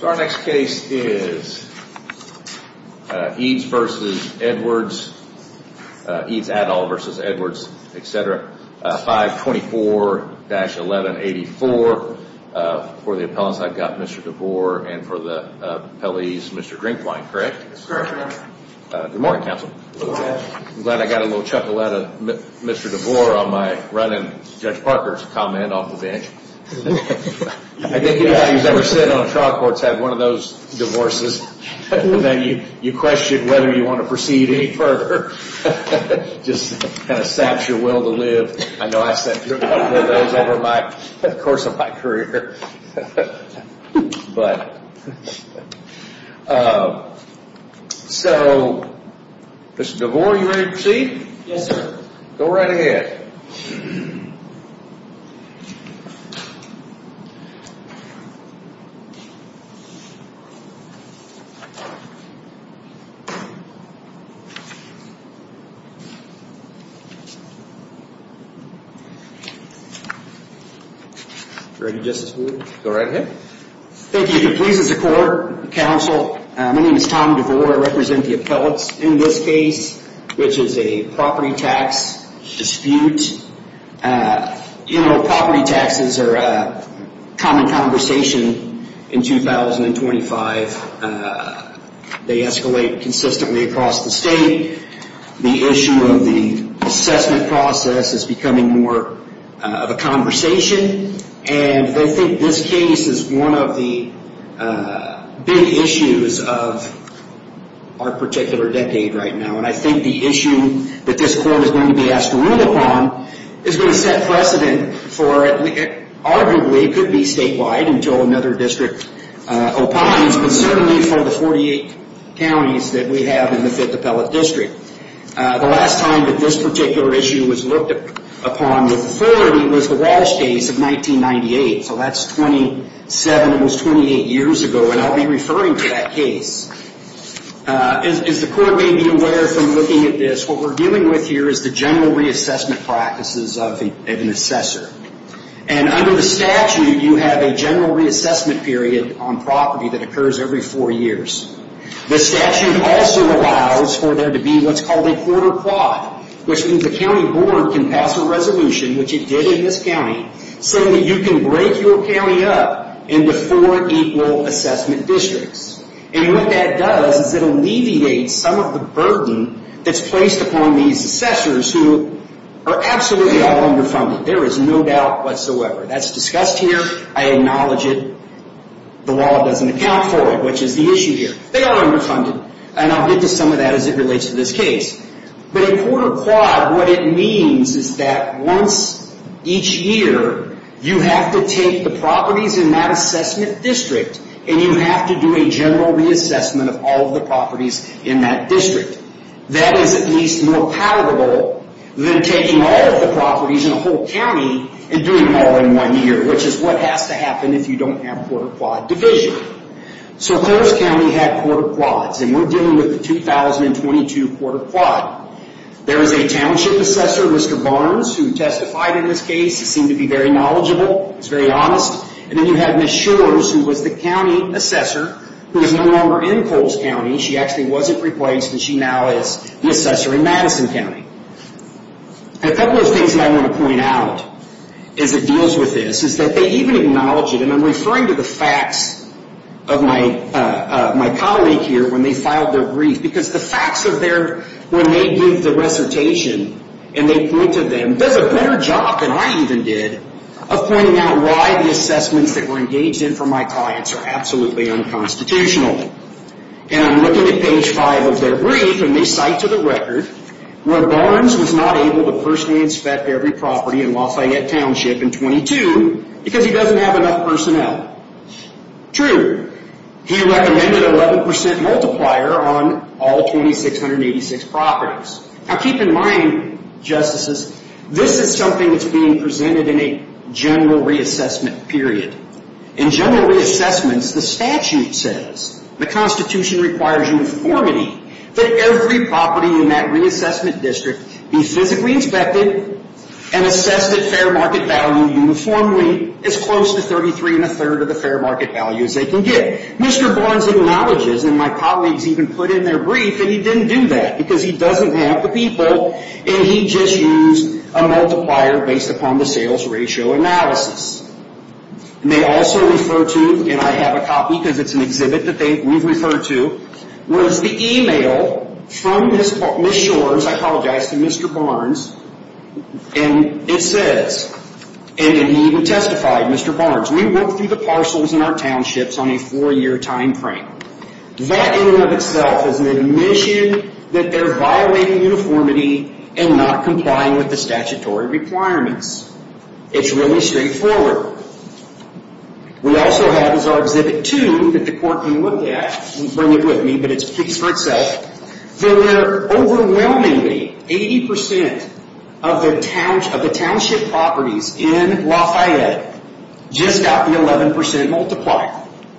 524-1184 for the appellants I've got Mr. DeVore and for the Appellees Mr. Drinkwine. Correct, Your Honor. Good morning, Counsel. I'm glad I got a little chuckle out of Mr. DeVore on my run in Judge Parker's comment off the bench. I think he's never said on any trial that there's nothing more to be said. None of the trial courts have one of those divorces that you question whether you want to proceed any further. Just kind of saps your will to live. I know I've said a couple of those over the course of my career. So Mr. DeVore, are you ready to proceed? Yes, sir. Go right ahead. Thank you. If it pleases the Court, Counsel, my name is Tom DeVore, I represent the appellants in this case, which is a property tax dispute. You know, property taxes are a common conversation in jurisdiction. In 2025, they escalate consistently across the state. The issue of the assessment process is becoming more of a conversation. And I think this case is one of the big issues of our particular decade right now. And I think the issue that this Court is going to be asked to rule upon is going to set precedent for, arguably, it could be statewide until another district opines, but certainly for the 48 counties that we have in the Fifth Appellate District. The last time that this particular issue was looked upon with authority was the Walsh case of 1998. So that's 27, almost 28 years ago. And I'll be referring to that case. As the Court may be aware from looking at this, what we're dealing with here is the general reassessment practices of an assessor. And under the statute, you have a general reassessment period on property that occurs every four years. The statute also allows for there to be what's called a quarter plot, which means the county board can pass a resolution, which it did in this county, so that you can break your county up into four equal assessment districts. And what that does is it alleviates some of the burden that's placed upon these assessors who are absolutely all underfunded. There is no doubt whatsoever. That's discussed here. I acknowledge it. The law doesn't account for it, which is the issue here. They are underfunded. And I'll get to some of that as it relates to this case. But a quarter plot, what it means is that once each year, you have to take the properties in that assessment district, and you have to do a general reassessment of all of the properties in that district. That is at least more palatable than taking all of the properties in a whole county and doing all in one year, which is what has to happen if you don't have quarter plot division. So Coles County had quarter plots, and we're dealing with the 2022 quarter plot. There is a township assessor, Mr. Barnes, who testified in this case. He seemed to be very knowledgeable. He was very honest. And then you have Ms. Shores, who was the county assessor, who is no longer in Coles County. She actually wasn't replaced, and she now is the assessor in Madison County. A couple of things that I want to point out as it deals with this is that they even acknowledge it, and I'm referring to the facts of my colleague here when they filed their brief, because the facts are there when they give the recitation, and they point to them. Does a better job than I even did of pointing out why the assessments that were engaged in for my clients are absolutely unconstitutional. And I'm looking at page 5 of their brief, and they cite to the record, where Barnes was not able to personally inspect every property in Lafayette Township in 22 because he doesn't have enough personnel. True. He recommended an 11% multiplier on all 2,686 properties. Now keep in mind, Justices, this is something that's being presented in a general reassessment period. In general reassessments, the statute says, the Constitution requires uniformity, that every property in that reassessment district be physically inspected and assessed at fair market value uniformly as close to 33 1 3rd of the fair market value as they can get. Mr. Barnes acknowledges, and my colleagues even put in their brief, that he didn't do that because he doesn't have the people, and he just used a multiplier based upon the sales ratio analysis. And they also refer to, and I have a copy because it's an exhibit that we've referred to, was the e-mail from Ms. Shores, I apologize, to Mr. Barnes, and it says, and he even testified, Mr. Barnes, we work through the parcels in our townships on a four-year time frame. That in and of itself is an admission that they're violating uniformity and not complying with the statutory requirements. It's really straightforward. We also have, as our exhibit 2, that the court can look at, and bring it with me, but it speaks for itself, that there are overwhelmingly 80% of the township properties in Lafayette just got the 11% multiplier.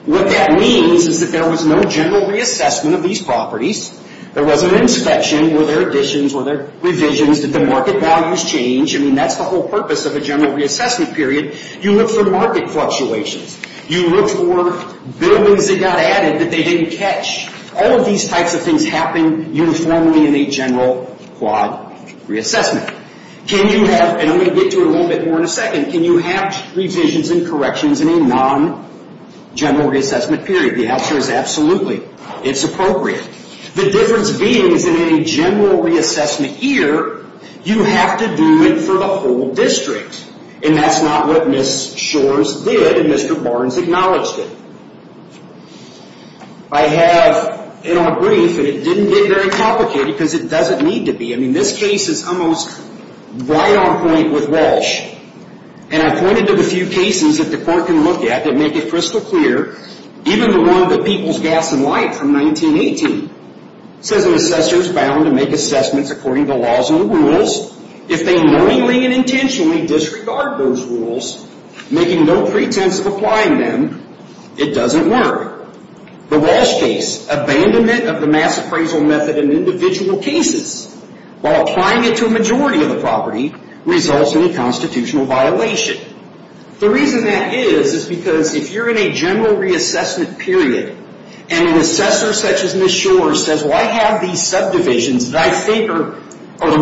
What that means is that there was no general reassessment of these properties. There wasn't an inspection. Were there additions? Were there revisions? Did the market values change? I mean, that's the whole purpose of a general reassessment period. You look for market fluctuations. You look for buildings that got added that they didn't catch. All of these types of things happen uniformly in a general quad reassessment. Can you have, and I'm going to get to it a little bit more in a second, can you have revisions and corrections in a non-general reassessment period? The answer is absolutely. It's appropriate. The difference being is that in a general reassessment year, you have to do it for the whole district, and that's not what Ms. Shores did and Mr. Barnes acknowledged it. I have in our brief, and it didn't get very complicated because it doesn't need to be. I mean, this case is almost right on point with Walsh, and I pointed to the few cases that the court can look at that make it crystal clear, even the one with People's Gas and Light from 1918. It says an assessor is bound to make assessments according to laws and rules. If they knowingly and intentionally disregard those rules, making no pretense of applying them, it doesn't work. The Walsh case, abandonment of the mass appraisal method in individual cases. While applying it to a majority of the property results in a constitutional violation. The reason that is is because if you're in a general reassessment period and an assessor such as Ms. Shores says, well, I have these subdivisions that I think are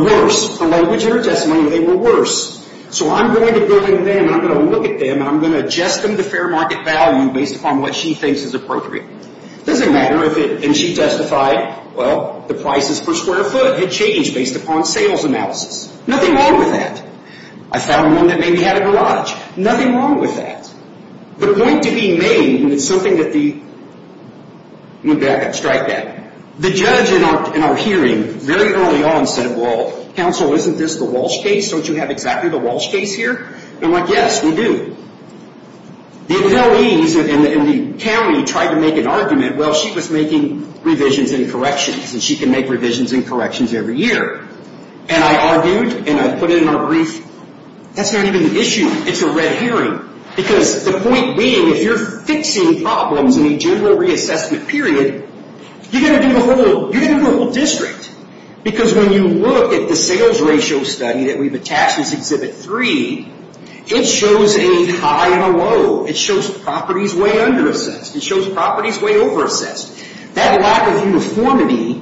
worse, the language in her testimony, they were worse. So I'm going to go in there and I'm going to look at them and I'm going to adjust them to fair market value based upon what she thinks is appropriate. It doesn't matter if it, and she testified, well, the prices per square foot had changed based upon sales analysis. Nothing wrong with that. I found one that maybe had a garage. Nothing wrong with that. The point to be made, and it's something that the, let me back up, strike that. The judge in our hearing very early on said, well, counsel, isn't this the Walsh case? Don't you have exactly the Walsh case here? And I'm like, yes, we do. The employees in the county tried to make an argument, well, she was making revisions and corrections, and she can make revisions and corrections every year. And I argued and I put it in our brief, that's not even an issue. It's a red herring. Because the point being, if you're fixing problems in a general reassessment period, you're going to do the whole district. Because when you look at the sales ratio study that we've attached as Exhibit 3, it shows a high and a low. It shows properties way under assessed. It shows properties way over assessed. That lack of uniformity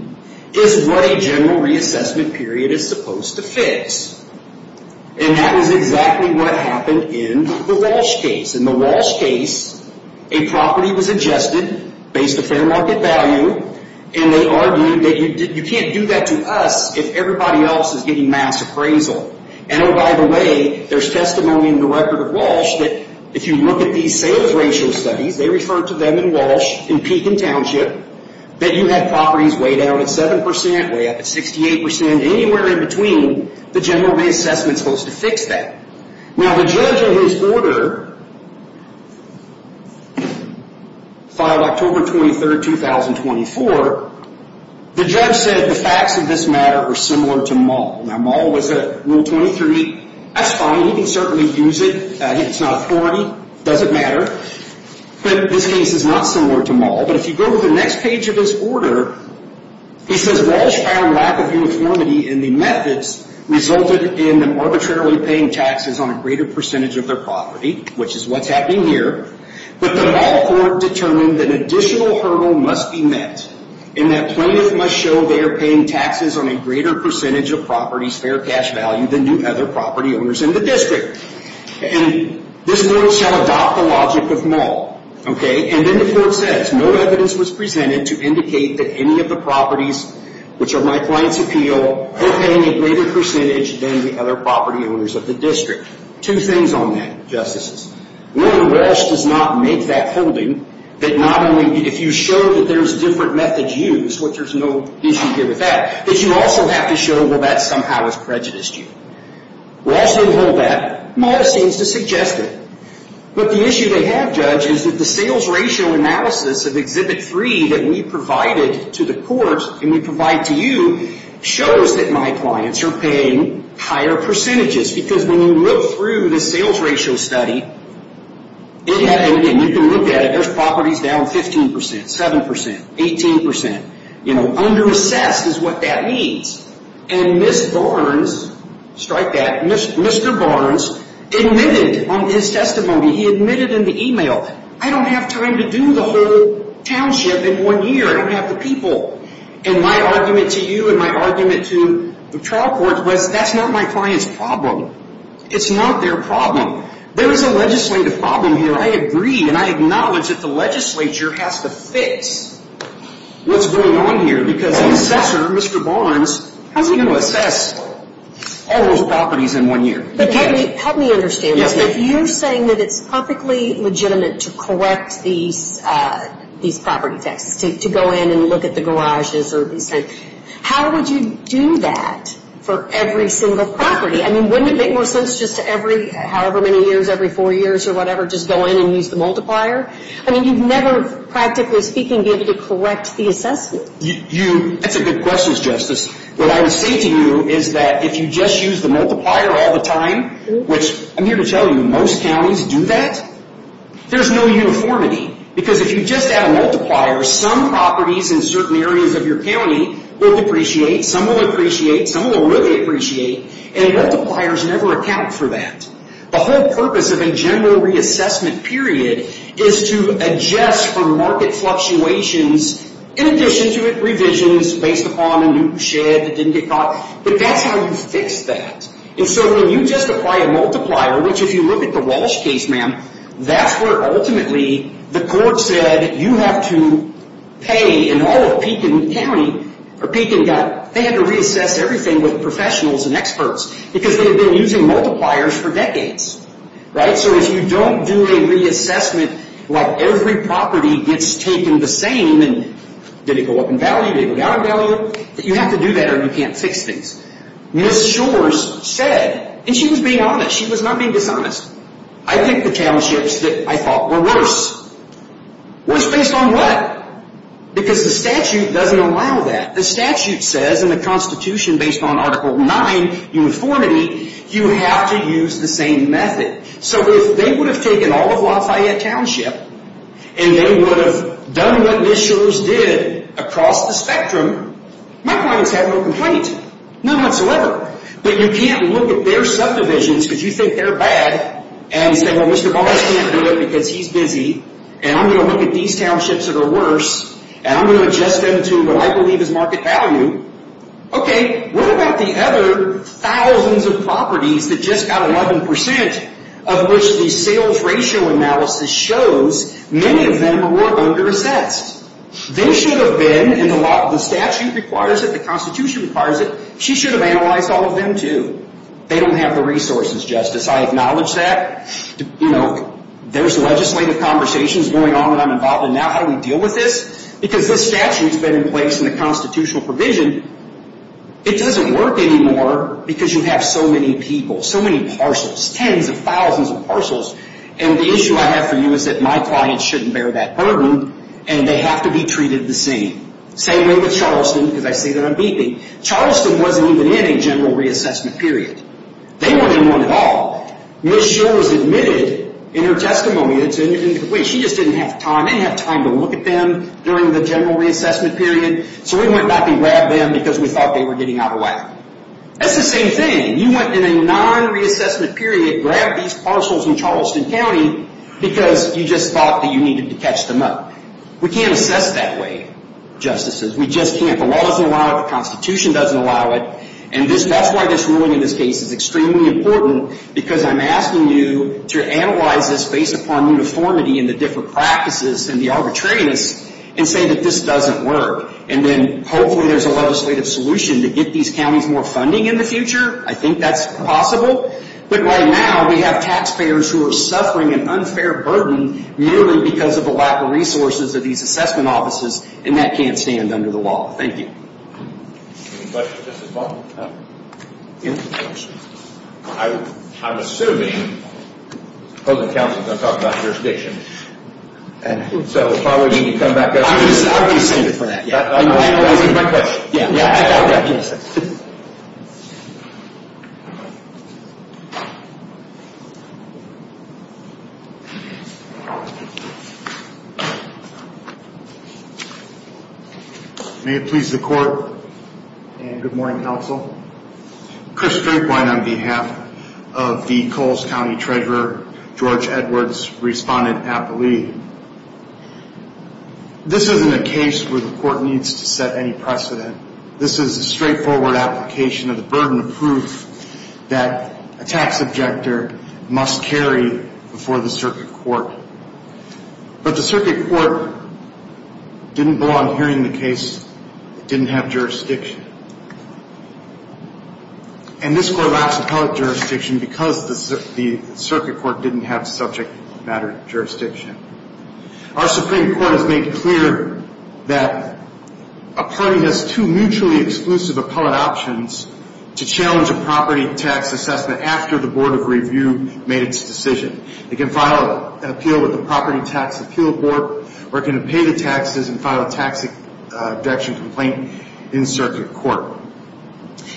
is what a general reassessment period is supposed to fix. And that is exactly what happened in the Walsh case. In the Walsh case, a property was adjusted based on fair market value, and they argued that you can't do that to us if everybody else is getting mass appraisal. And, oh, by the way, there's testimony in the record of Walsh that if you look at these sales ratio studies, they refer to them in Walsh, in Pekin Township, that you have properties way down at 7 percent, way up at 68 percent, anywhere in between, the general reassessment is supposed to fix that. Now, the judge in his order, filed October 23, 2024, the judge said the facts of this matter were similar to Maul. Now, Maul was at Rule 23. That's fine. He can certainly use it. It's not authority. It doesn't matter. But this case is not similar to Maul. But if you go to the next page of his order, he says Walsh found lack of uniformity in the methods resulted in them arbitrarily paying taxes on a greater percentage of their property, which is what's happening here, but the Maul court determined that an additional hurdle must be met in that plaintiff must show they are paying taxes on a greater percentage of property's fair cash value than do other property owners in the district. And this court shall adopt the logic of Maul. Okay? And then the court says no evidence was presented to indicate that any of the properties, which are my client's appeal, are paying a greater percentage than the other property owners of the district. Two things on that, Justices. One, Walsh does not make that holding, that not only if you show that there's different methods used, which there's no issue here with that, that you also have to show that that somehow has prejudiced you. Walsh didn't hold that. Maul seems to suggest it. But the issue they have, Judge, is that the sales ratio analysis of Exhibit 3 that we provided to the court and we provide to you shows that my clients are paying higher percentages because when you look through the sales ratio study, you can look at it, there's properties down 15%, 7%, 18%. You know, under-assessed is what that means. And Ms. Barnes, strike that, Mr. Barnes, admitted on his testimony, he admitted in the email, I don't have time to do the whole township in one year. I don't have the people. And my argument to you and my argument to the trial court was that's not my client's problem. It's not their problem. There is a legislative problem here, I agree, and I acknowledge that the legislature has to fix what's going on here because the assessor, Mr. Barnes, hasn't even assessed all those properties in one year. But help me understand this. If you're saying that it's perfectly legitimate to correct these property taxes, to go in and look at the garages or these things, how would you do that for every single property? I mean, wouldn't it make more sense just to every however many years, every four years or whatever, just go in and use the multiplier? I mean, you'd never, practically speaking, be able to correct the assessment. That's a good question, Justice. What I would say to you is that if you just use the multiplier all the time, which I'm here to tell you most counties do that, there's no uniformity. Because if you just add a multiplier, some properties in certain areas of your county will depreciate, some will appreciate, some will really appreciate, and multipliers never account for that. The whole purpose of a general reassessment period is to adjust for market fluctuations in addition to revisions based upon a new shed that didn't get caught. But that's how you fix that. And so when you just apply a multiplier, which if you look at the Walsh case, ma'am, that's where ultimately the court said you have to pay. And all of Pekin County, or Pekin County, they had to reassess everything with professionals and experts because they had been using multipliers for decades. So if you don't do a reassessment like every property gets taken the same, did it go up in value, did it go down in value, you have to do that or you can't fix things. Ms. Shores said, and she was being honest, she was not being dishonest, I think the townships that I thought were worse. Worse based on what? Because the statute doesn't allow that. The statute says in the Constitution based on Article 9, uniformity, you have to use the same method. So if they would have taken all of Lafayette Township and they would have done what Ms. Shores did across the spectrum, my point is have no complaint, none whatsoever. But you can't look at their subdivisions because you think they're bad and say, well, Mr. Barnes can't do it because he's busy and I'm going to look at these townships that are worse and I'm going to adjust them to what I believe is market value. Okay, what about the other thousands of properties that just got 11% of which the sales ratio analysis shows many of them were under assessed? They should have been and the statute requires it, the Constitution requires it, she should have analyzed all of them too. They don't have the resources, Justice. I acknowledge that. There's legislative conversations going on that I'm involved in now. How do we deal with this? Because this statute's been in place and the constitutional provision, it doesn't work anymore because you have so many people, so many parcels, tens of thousands of parcels, and the issue I have for you is that my clients shouldn't bear that burden and they have to be treated the same. Same way with Charleston because I say that I'm beeping. Charleston wasn't even in a general reassessment period. They weren't in one at all. Ms. Shores admitted in her testimony that she just didn't have time, she didn't have time to look at them during the general reassessment period, so we went back and grabbed them because we thought they were getting out of whack. That's the same thing. You went in a non-reassessment period, grabbed these parcels in Charleston County because you just thought that you needed to catch them up. We can't assess that way, Justices. We just can't. The law doesn't allow it, the Constitution doesn't allow it, and that's why this ruling in this case is extremely important because I'm asking you to analyze this based upon uniformity and the different practices and the arbitrariness and say that this doesn't work. And then hopefully there's a legislative solution to get these counties more funding in the future. I think that's possible. But right now we have taxpayers who are suffering an unfair burden merely because of the lack of resources of these assessment offices, and that can't stand under the law. Thank you. Any questions, Justice Paul? I'm assuming the opposing counsel is going to talk about jurisdiction. So if I were you, you'd come back up to me. I would be seated for that. I'm analyzing my question. Yeah, I recognize that. May it please the Court and good morning, counsel. Chris Drinkwine on behalf of the Coles County Treasurer, George Edwards, respondent at the lead. This isn't a case where the court needs to set any precedent. This is a straightforward application of the burden of proof that a tax objector must carry before the circuit court. But the circuit court didn't belong here in the case. It didn't have jurisdiction. And this court lacks appellate jurisdiction because the circuit court didn't have subject matter jurisdiction. Our Supreme Court has made clear that a party has two mutually exclusive appellate options to challenge a property tax assessment after the Board of Review made its decision. It can file an appeal with the Property Tax Appeal Board, or it can pay the taxes and file a tax deduction complaint in circuit court.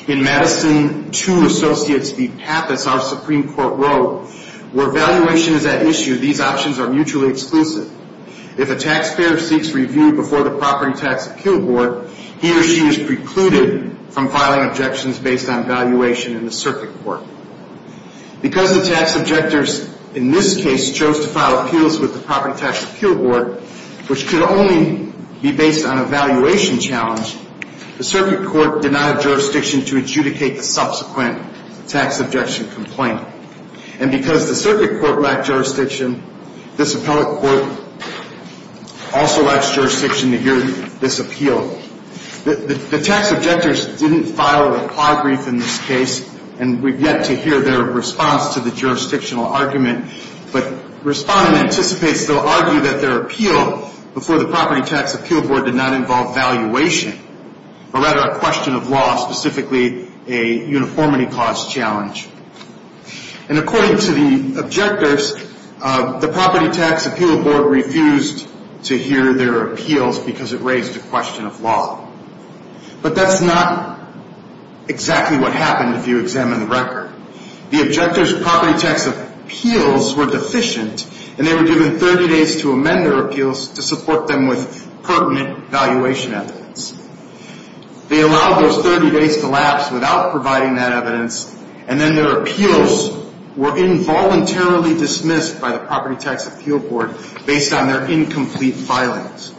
In Madison 2, Associates v. Pappas, our Supreme Court wrote, where valuation is at issue, these options are mutually exclusive. If a taxpayer seeks review before the Property Tax Appeal Board, he or she is precluded from filing objections based on valuation in the circuit court. Because the tax objectors in this case chose to file appeals with the Property Tax Appeal Board, which could only be based on a valuation challenge, the circuit court did not have jurisdiction to adjudicate the subsequent tax objection complaint. And because the circuit court lacked jurisdiction, this appellate court also lacks jurisdiction to hear this appeal. The tax objectors didn't file a plot brief in this case, and we've yet to hear their response to the jurisdictional argument. But Respondent anticipates they'll argue that their appeal before the Property Tax Appeal Board did not involve valuation, or rather a question of law, specifically a uniformity clause challenge. And according to the objectors, the Property Tax Appeal Board refused to hear their appeals because it raised a question of law. But that's not exactly what happened if you examine the record. The objectors' Property Tax Appeals were deficient, and they were given 30 days to amend their appeals to support them with pertinent valuation evidence. They allowed those 30 days to lapse without providing that evidence, and then their appeals were involuntarily dismissed by the Property Tax Appeal Board based on their incomplete filings.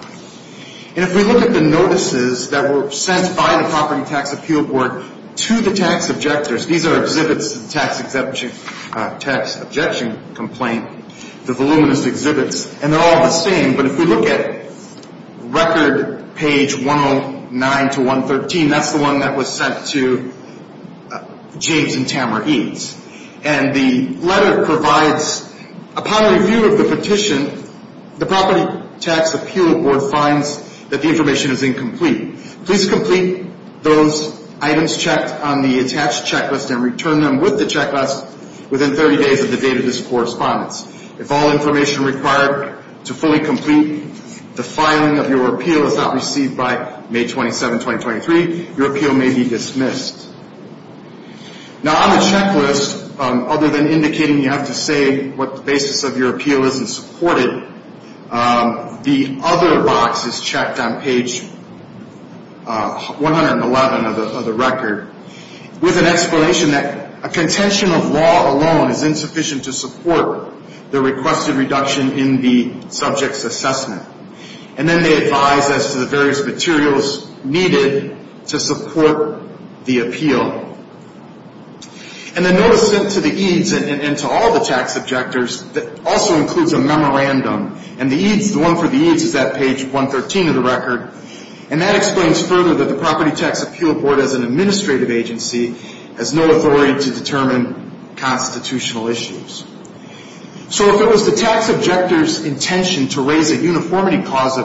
And if we look at the notices that were sent by the Property Tax Appeal Board to the tax objectors, these are exhibits to the tax objection complaint, the voluminous exhibits, and they're all the same, but if we look at record page 109 to 113, that's the one that was sent to James and Tamara Eades. And the letter provides, upon review of the petition, the Property Tax Appeal Board finds that the information is incomplete. Please complete those items checked on the attached checklist and return them with the checklist within 30 days of the date of this correspondence. If all information required to fully complete the filing of your appeal is not received by May 27, 2023, your appeal may be dismissed. Now, on the checklist, other than indicating you have to say what the basis of your appeal is and support it, the other box is checked on page 111 of the record with an explanation that a contention of law alone is insufficient to support the requested reduction in the subject's assessment. And then they advise as to the various materials needed to support the appeal. And the notice sent to the Eades and to all the tax objectors also includes a memorandum, and the one for the Eades is at page 113 of the record. And that explains further that the Property Tax Appeal Board as an administrative agency has no authority to determine constitutional issues. So if it was the tax objector's intention to raise a uniformity cause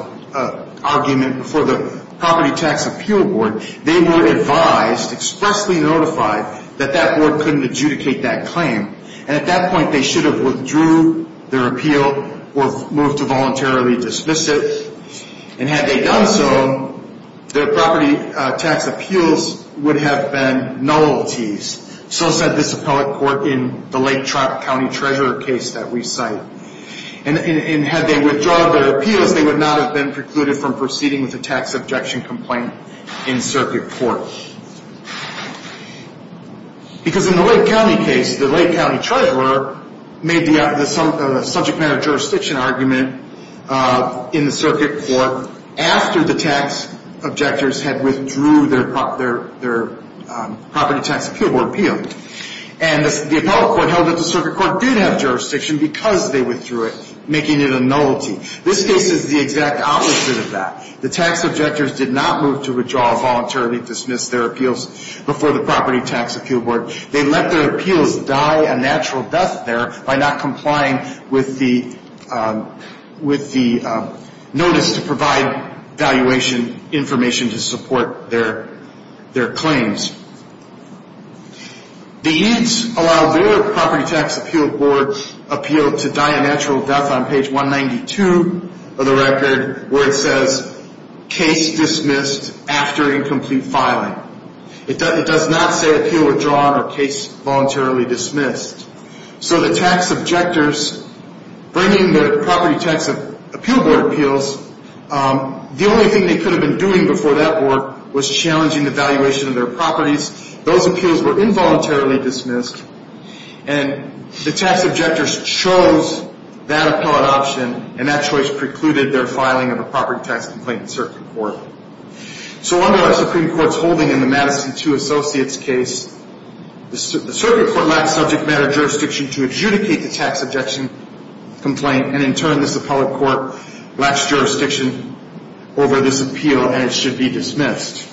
argument before the Property Tax Appeal Board, they were advised, expressly notified, that that board couldn't adjudicate that claim. And at that point, they should have withdrew their appeal or moved to voluntarily dismiss it. And had they done so, their property tax appeals would have been nullities. So said this appellate court in the Lake County Treasurer case that we cite. And had they withdrawn their appeals, they would not have been precluded from proceeding with a tax objection complaint in circuit court. Because in the Lake County case, the Lake County Treasurer made the subject matter jurisdiction argument in the circuit court after the tax objectors had withdrew their Property Tax Appeal Board appeal. And the appellate court held that the circuit court did have jurisdiction because they withdrew it, making it a nullity. This case is the exact opposite of that. The tax objectors did not move to withdraw or voluntarily dismiss their appeals before the Property Tax Appeal Board. They let their appeals die a natural death there by not complying with the notice to provide valuation information to support their claims. The EADS allowed their Property Tax Appeal Board appeal to die a natural death on page 192 of the record where it says, Case Dismissed After Incomplete Filing. It does not say Appeal Withdrawn or Case Voluntarily Dismissed. So the tax objectors, bringing their Property Tax Appeal Board appeals, the only thing they could have been doing before that board was challenging the valuation of their properties. Those appeals were involuntarily dismissed. And the tax objectors chose that appellate option, and that choice precluded their filing of a property tax complaint in circuit court. So under our Supreme Court's holding in the Madison 2 Associates case, the circuit court lacks subject matter jurisdiction to adjudicate the tax objection complaint, and in turn, this appellate court lacks jurisdiction over this appeal, and it should be dismissed.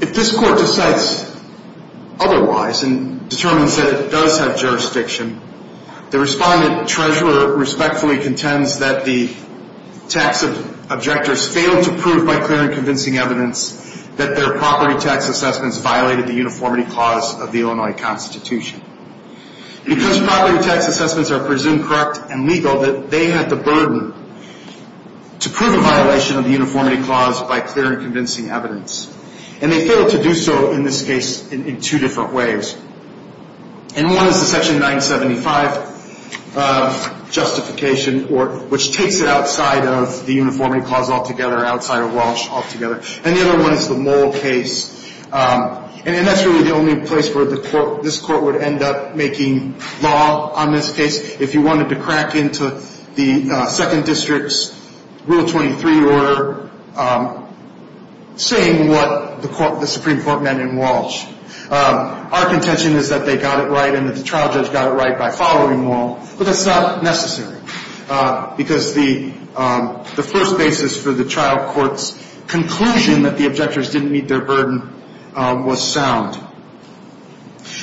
If this court decides otherwise and determines that it does have jurisdiction, the respondent treasurer respectfully contends that the tax objectors failed to prove by clear and convincing evidence that their property tax assessments violated the uniformity clause of the Illinois Constitution. Because property tax assessments are presumed correct and legal, they had the burden to prove a violation of the uniformity clause by clear and convincing evidence. And they failed to do so in this case in two different ways. And one is the Section 975 justification, which takes it outside of the uniformity clause altogether, outside of Walsh altogether. And the other one is the Mole case. And that's really the only place where this court would end up making law on this case. If you wanted to crack into the Second District's Rule 23 order saying what the Supreme Court meant in Walsh. Our contention is that they got it right and that the trial judge got it right by following Walsh, but that's not necessary because the first basis for the trial court's conclusion that the objectors didn't meet their burden was sound.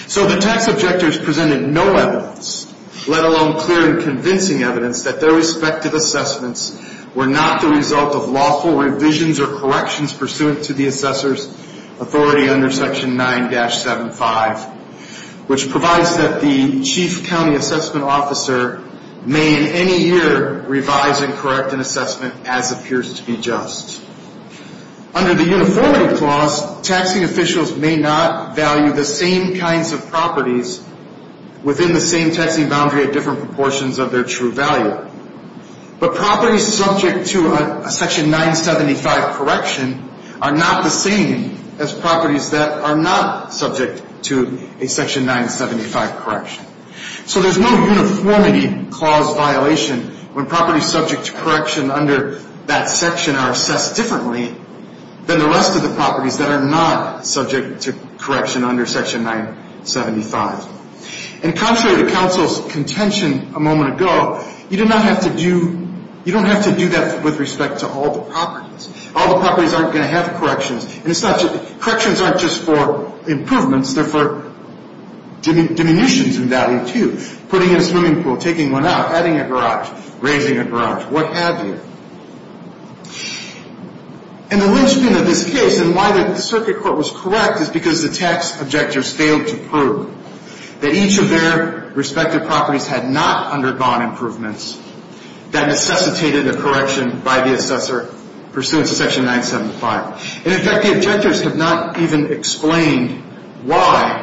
So the tax objectors presented no evidence, let alone clear and convincing evidence, that their respective assessments were not the result of lawful revisions or corrections pursuant to the assessor's authority under Section 9-75, which provides that the chief county assessment officer may in any year revise and correct an assessment as appears to be just. Under the uniformity clause, taxing officials may not value the same kinds of properties within the same taxing boundary at different proportions of their true value. But properties subject to a Section 9-75 correction are not the same as properties that are not subject to a Section 9-75 correction. So there's no uniformity clause violation when properties subject to correction under that section are assessed differently than the rest of the properties that are not subject to correction under Section 9-75. And contrary to counsel's contention a moment ago, you do not have to do that with respect to all the properties. All the properties aren't going to have corrections. Corrections aren't just for improvements. They're for diminutions in value, too. Putting in a swimming pool, taking one out, adding a garage, raising a garage, what have you. And the linchpin of this case and why the circuit court was correct is because the tax objectors failed to prove that each of their respective properties had not undergone improvements that necessitated a correction by the assessor pursuant to Section 9-75. And, in fact, the objectors have not even explained why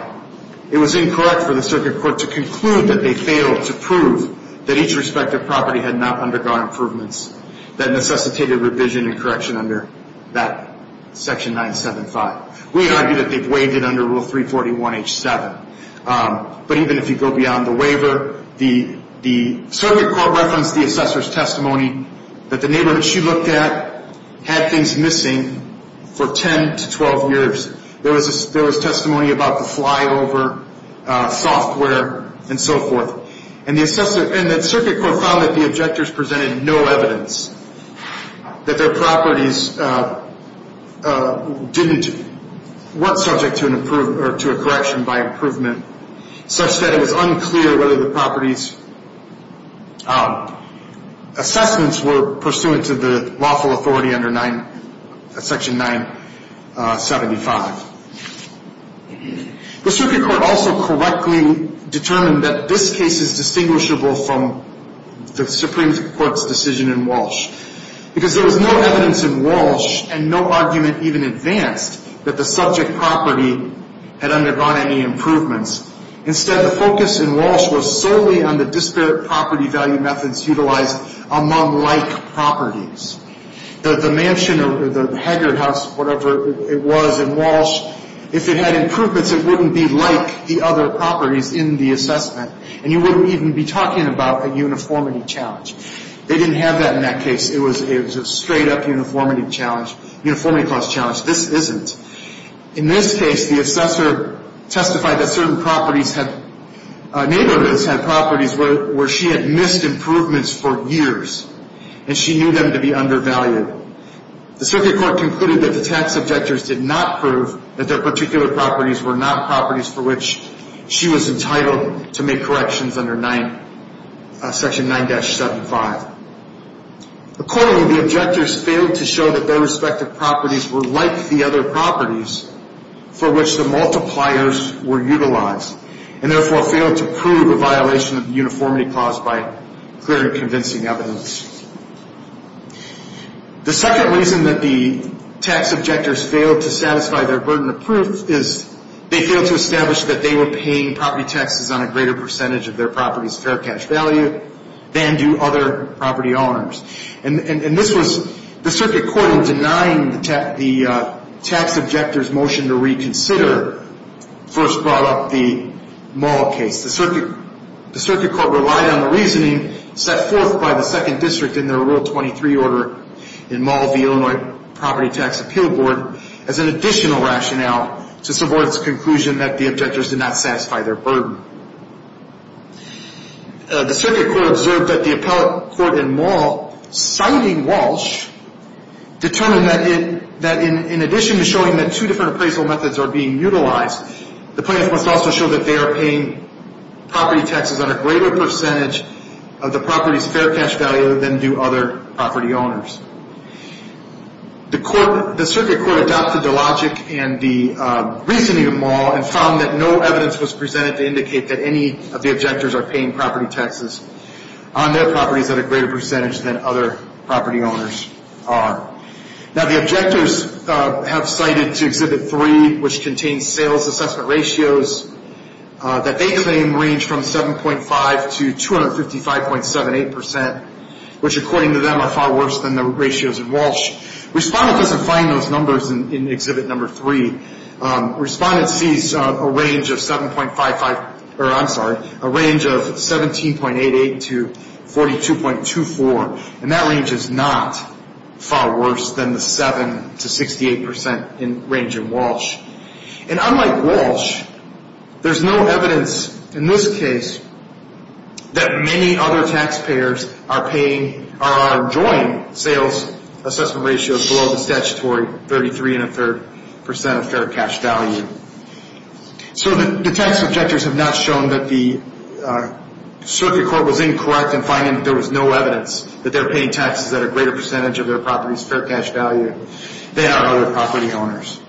it was incorrect for the circuit court to conclude that they failed to prove that each respective property had not undergone improvements that necessitated revision and correction under that Section 9-75. We argue that they've waived it under Rule 341H-7. But even if you go beyond the waiver, the circuit court referenced the assessor's testimony that the neighborhood she looked at had things missing for 10 to 12 years. There was testimony about the flyover, software, and so forth. And the circuit court found that the objectors presented no evidence that their properties weren't subject to a correction by improvement, such that it was unclear whether the property's assessments were pursuant to the lawful authority under Section 9-75. The circuit court also correctly determined that this case is distinguishable from the Supreme Court's decision in Walsh because there was no evidence in Walsh and no argument even advanced that the subject property had undergone any improvements. Instead, the focus in Walsh was solely on the disparate property value methods utilized among like properties. The mansion or the Haggard house, whatever it was in Walsh, if it had improvements, it wouldn't be like the other properties in the assessment. And you wouldn't even be talking about a uniformity challenge. They didn't have that in that case. It was a straight-up uniformity challenge, uniformity clause challenge. This isn't. In this case, the assessor testified that certain properties had – neighborhoods had properties where she had missed improvements for years, and she knew them to be undervalued. The circuit court concluded that the tax objectors did not prove that their particular properties were not properties for which she was entitled to make corrections under 9 – Section 9-75. Accordingly, the objectors failed to show that their respective properties were like the other properties for which the multipliers were utilized, and therefore failed to prove a violation of the uniformity clause by clear and convincing evidence. The second reason that the tax objectors failed to satisfy their burden of proof is they failed to establish that they were paying property taxes on a greater percentage of their property's fair cash value than do other property owners. And this was – the circuit court, in denying the tax objectors' motion to reconsider, first brought up the Mall case. The circuit court relied on the reasoning set forth by the 2nd District in their Rule 23 order in Mall v. Illinois Property Tax Appeal Board as an additional rationale to support its conclusion that the objectors did not satisfy their burden. The circuit court observed that the appellate court in Mall, citing Walsh, determined that in addition to showing that two different appraisal methods are being utilized, the plaintiffs must also show that they are paying property taxes on a greater percentage of the property's fair cash value than do other property owners. The circuit court adopted the logic and the reasoning of Mall and found that no evidence was presented to indicate that any of the objectors are paying property taxes on their properties at a greater percentage than other property owners are. Now, the objectors have cited to Exhibit 3, which contains sales assessment ratios that they claim range from 7.5 to 255.78 percent, which according to them are far worse than the ratios in Walsh. Respondent doesn't find those numbers in Exhibit 3. Respondent sees a range of 17.88 to 42.24, and that range is not far worse than the 7 to 68 percent range in Walsh. And unlike Walsh, there's no evidence in this case that many other taxpayers are enjoying sales assessment ratios below the statutory 33.33 percent of fair cash value. So the tax objectors have not shown that the circuit court was incorrect in finding that there was no evidence that they're paying taxes at a greater percentage of their property's fair cash value than are other property owners.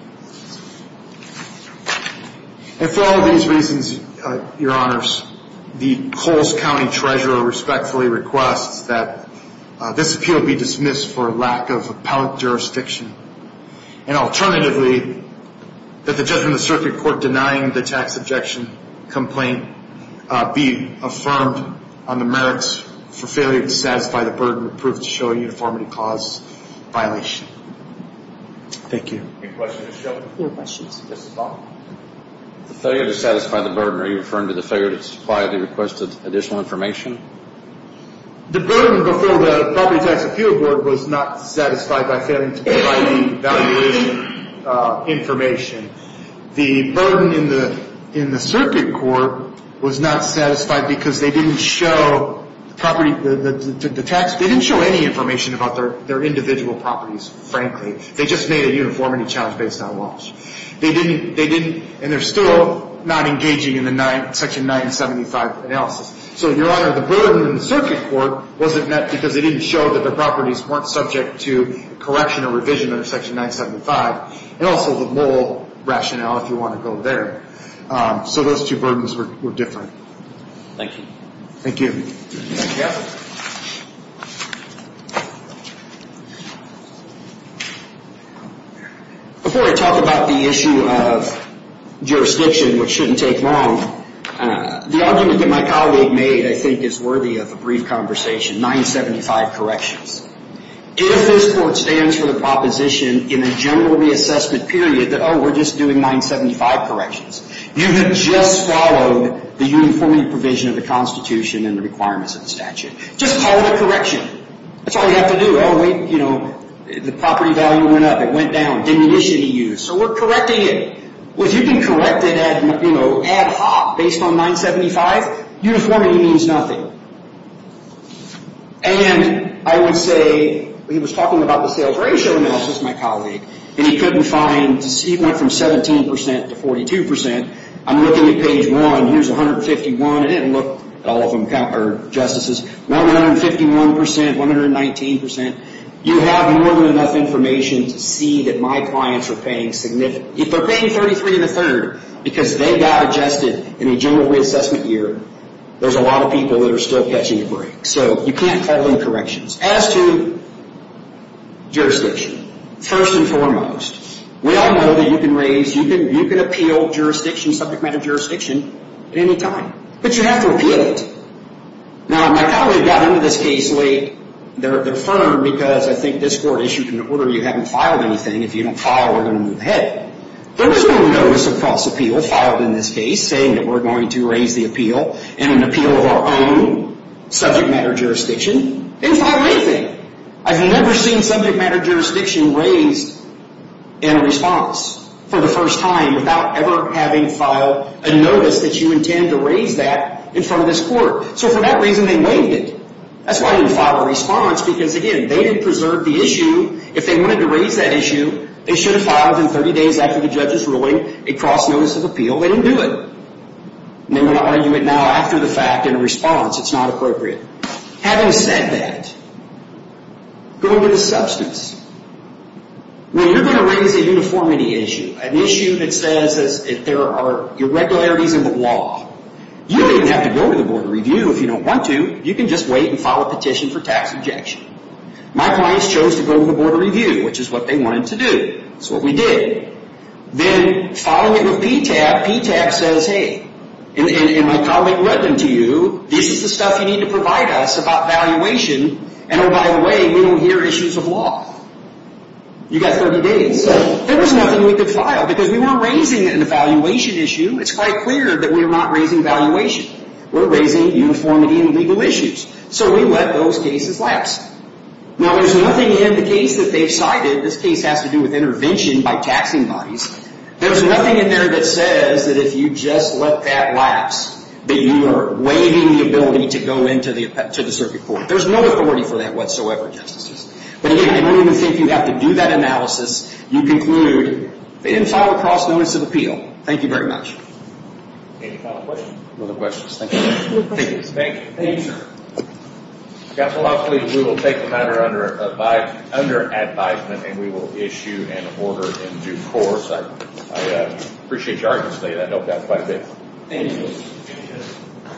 And for all of these reasons, Your Honors, the Coles County Treasurer respectfully requests that this appeal be dismissed for lack of appellate jurisdiction and alternatively that the judgment of the circuit court denying the tax objection complaint be affirmed on the merits for failure to satisfy the burden approved to show a uniformity clause violation. Thank you. Any questions? No questions. This is Bob. The failure to satisfy the burden, are you referring to the failure to supply the requested additional information? The burden before the Property Tax Appeal Board was not satisfied by failing to provide the evaluation information. The burden in the circuit court was not satisfied because they didn't show any information about their individual properties, frankly. They just made a uniformity challenge based on Walsh. They didn't, and they're still not engaging in the Section 975 analysis. So, Your Honor, the burden in the circuit court wasn't met because they didn't show that their properties weren't subject to correction or revision under Section 975 and also the moral rationale, if you want to go there. So those two burdens were different. Thank you. Thank you. Thank you. Before I talk about the issue of jurisdiction, which shouldn't take long, the argument that my colleague made, I think, is worthy of a brief conversation. 975 corrections. If this Court stands for the proposition in a general reassessment period that, oh, we're just doing 975 corrections, you have just followed the uniformity provision of the Constitution and the requirements of the statute. Just call it a correction. That's all you have to do. Oh, we, you know, the property value went up. It went down. Demolition to use. So we're correcting it. Well, if you can correct it, you know, ad hoc based on 975, uniformity means nothing. And I would say, he was talking about the sales ratio analysis, my colleague. And he couldn't find, he went from 17% to 42%. I'm looking at page 1. Here's 151. I didn't look at all of them, or justices. 151%, 119%. You have more than enough information to see that my clients are paying significant. They're paying 33 and a third because they got adjusted in a general reassessment year. There's a lot of people that are still catching a break. So you can't call them corrections. As to jurisdiction, first and foremost, we all know that you can raise, you can appeal jurisdiction, subject matter jurisdiction at any time. But you have to appeal it. Now, my colleague got into this case late. They're firm because I think this court issued an order. You haven't filed anything. If you don't file, we're going to move ahead. There was no notice of cross appeal filed in this case saying that we're going to raise the appeal in an appeal of our own subject matter jurisdiction. They didn't file anything. I've never seen subject matter jurisdiction raised in a response for the first time without ever having filed a notice that you intend to raise that in front of this court. So for that reason, they waived it. That's why they didn't file a response because, again, they didn't preserve the issue. If they wanted to raise that issue, they should have filed in 30 days after the judge is ruling a cross notice of appeal. They didn't do it. And they're going to argue it now after the fact in a response. It's not appropriate. Having said that, going to the substance. When you're going to raise a uniformity issue, an issue that says that there are irregularities in the law, you don't even have to go to the board of review if you don't want to. You can just wait and file a petition for tax objection. My clients chose to go to the board of review, which is what they wanted to do. That's what we did. Then following it with PTAB, PTAB says, hey, and my colleague read them to you, this is the stuff you need to provide us about valuation. And, oh, by the way, we don't hear issues of law. You've got 30 days. There was nothing we could file because we weren't raising an evaluation issue. It's quite clear that we are not raising valuation. We're raising uniformity and legal issues. So we let those cases lapse. Now, there's nothing in the case that they've cited. This case has to do with intervention by taxing bodies. There's nothing in there that says that if you just let that lapse that you are waiving the ability to go into the circuit court. There's no authority for that whatsoever, Justices. But, again, I don't even think you have to do that analysis. You conclude and file a cross-notice of appeal. Thank you very much. Any final questions? No questions. Thank you. Thank you, sir. Counsel, I believe we will take the matter under advisement and we will issue an order in due course. I appreciate your honesty. I hope that's what I did. Thank you.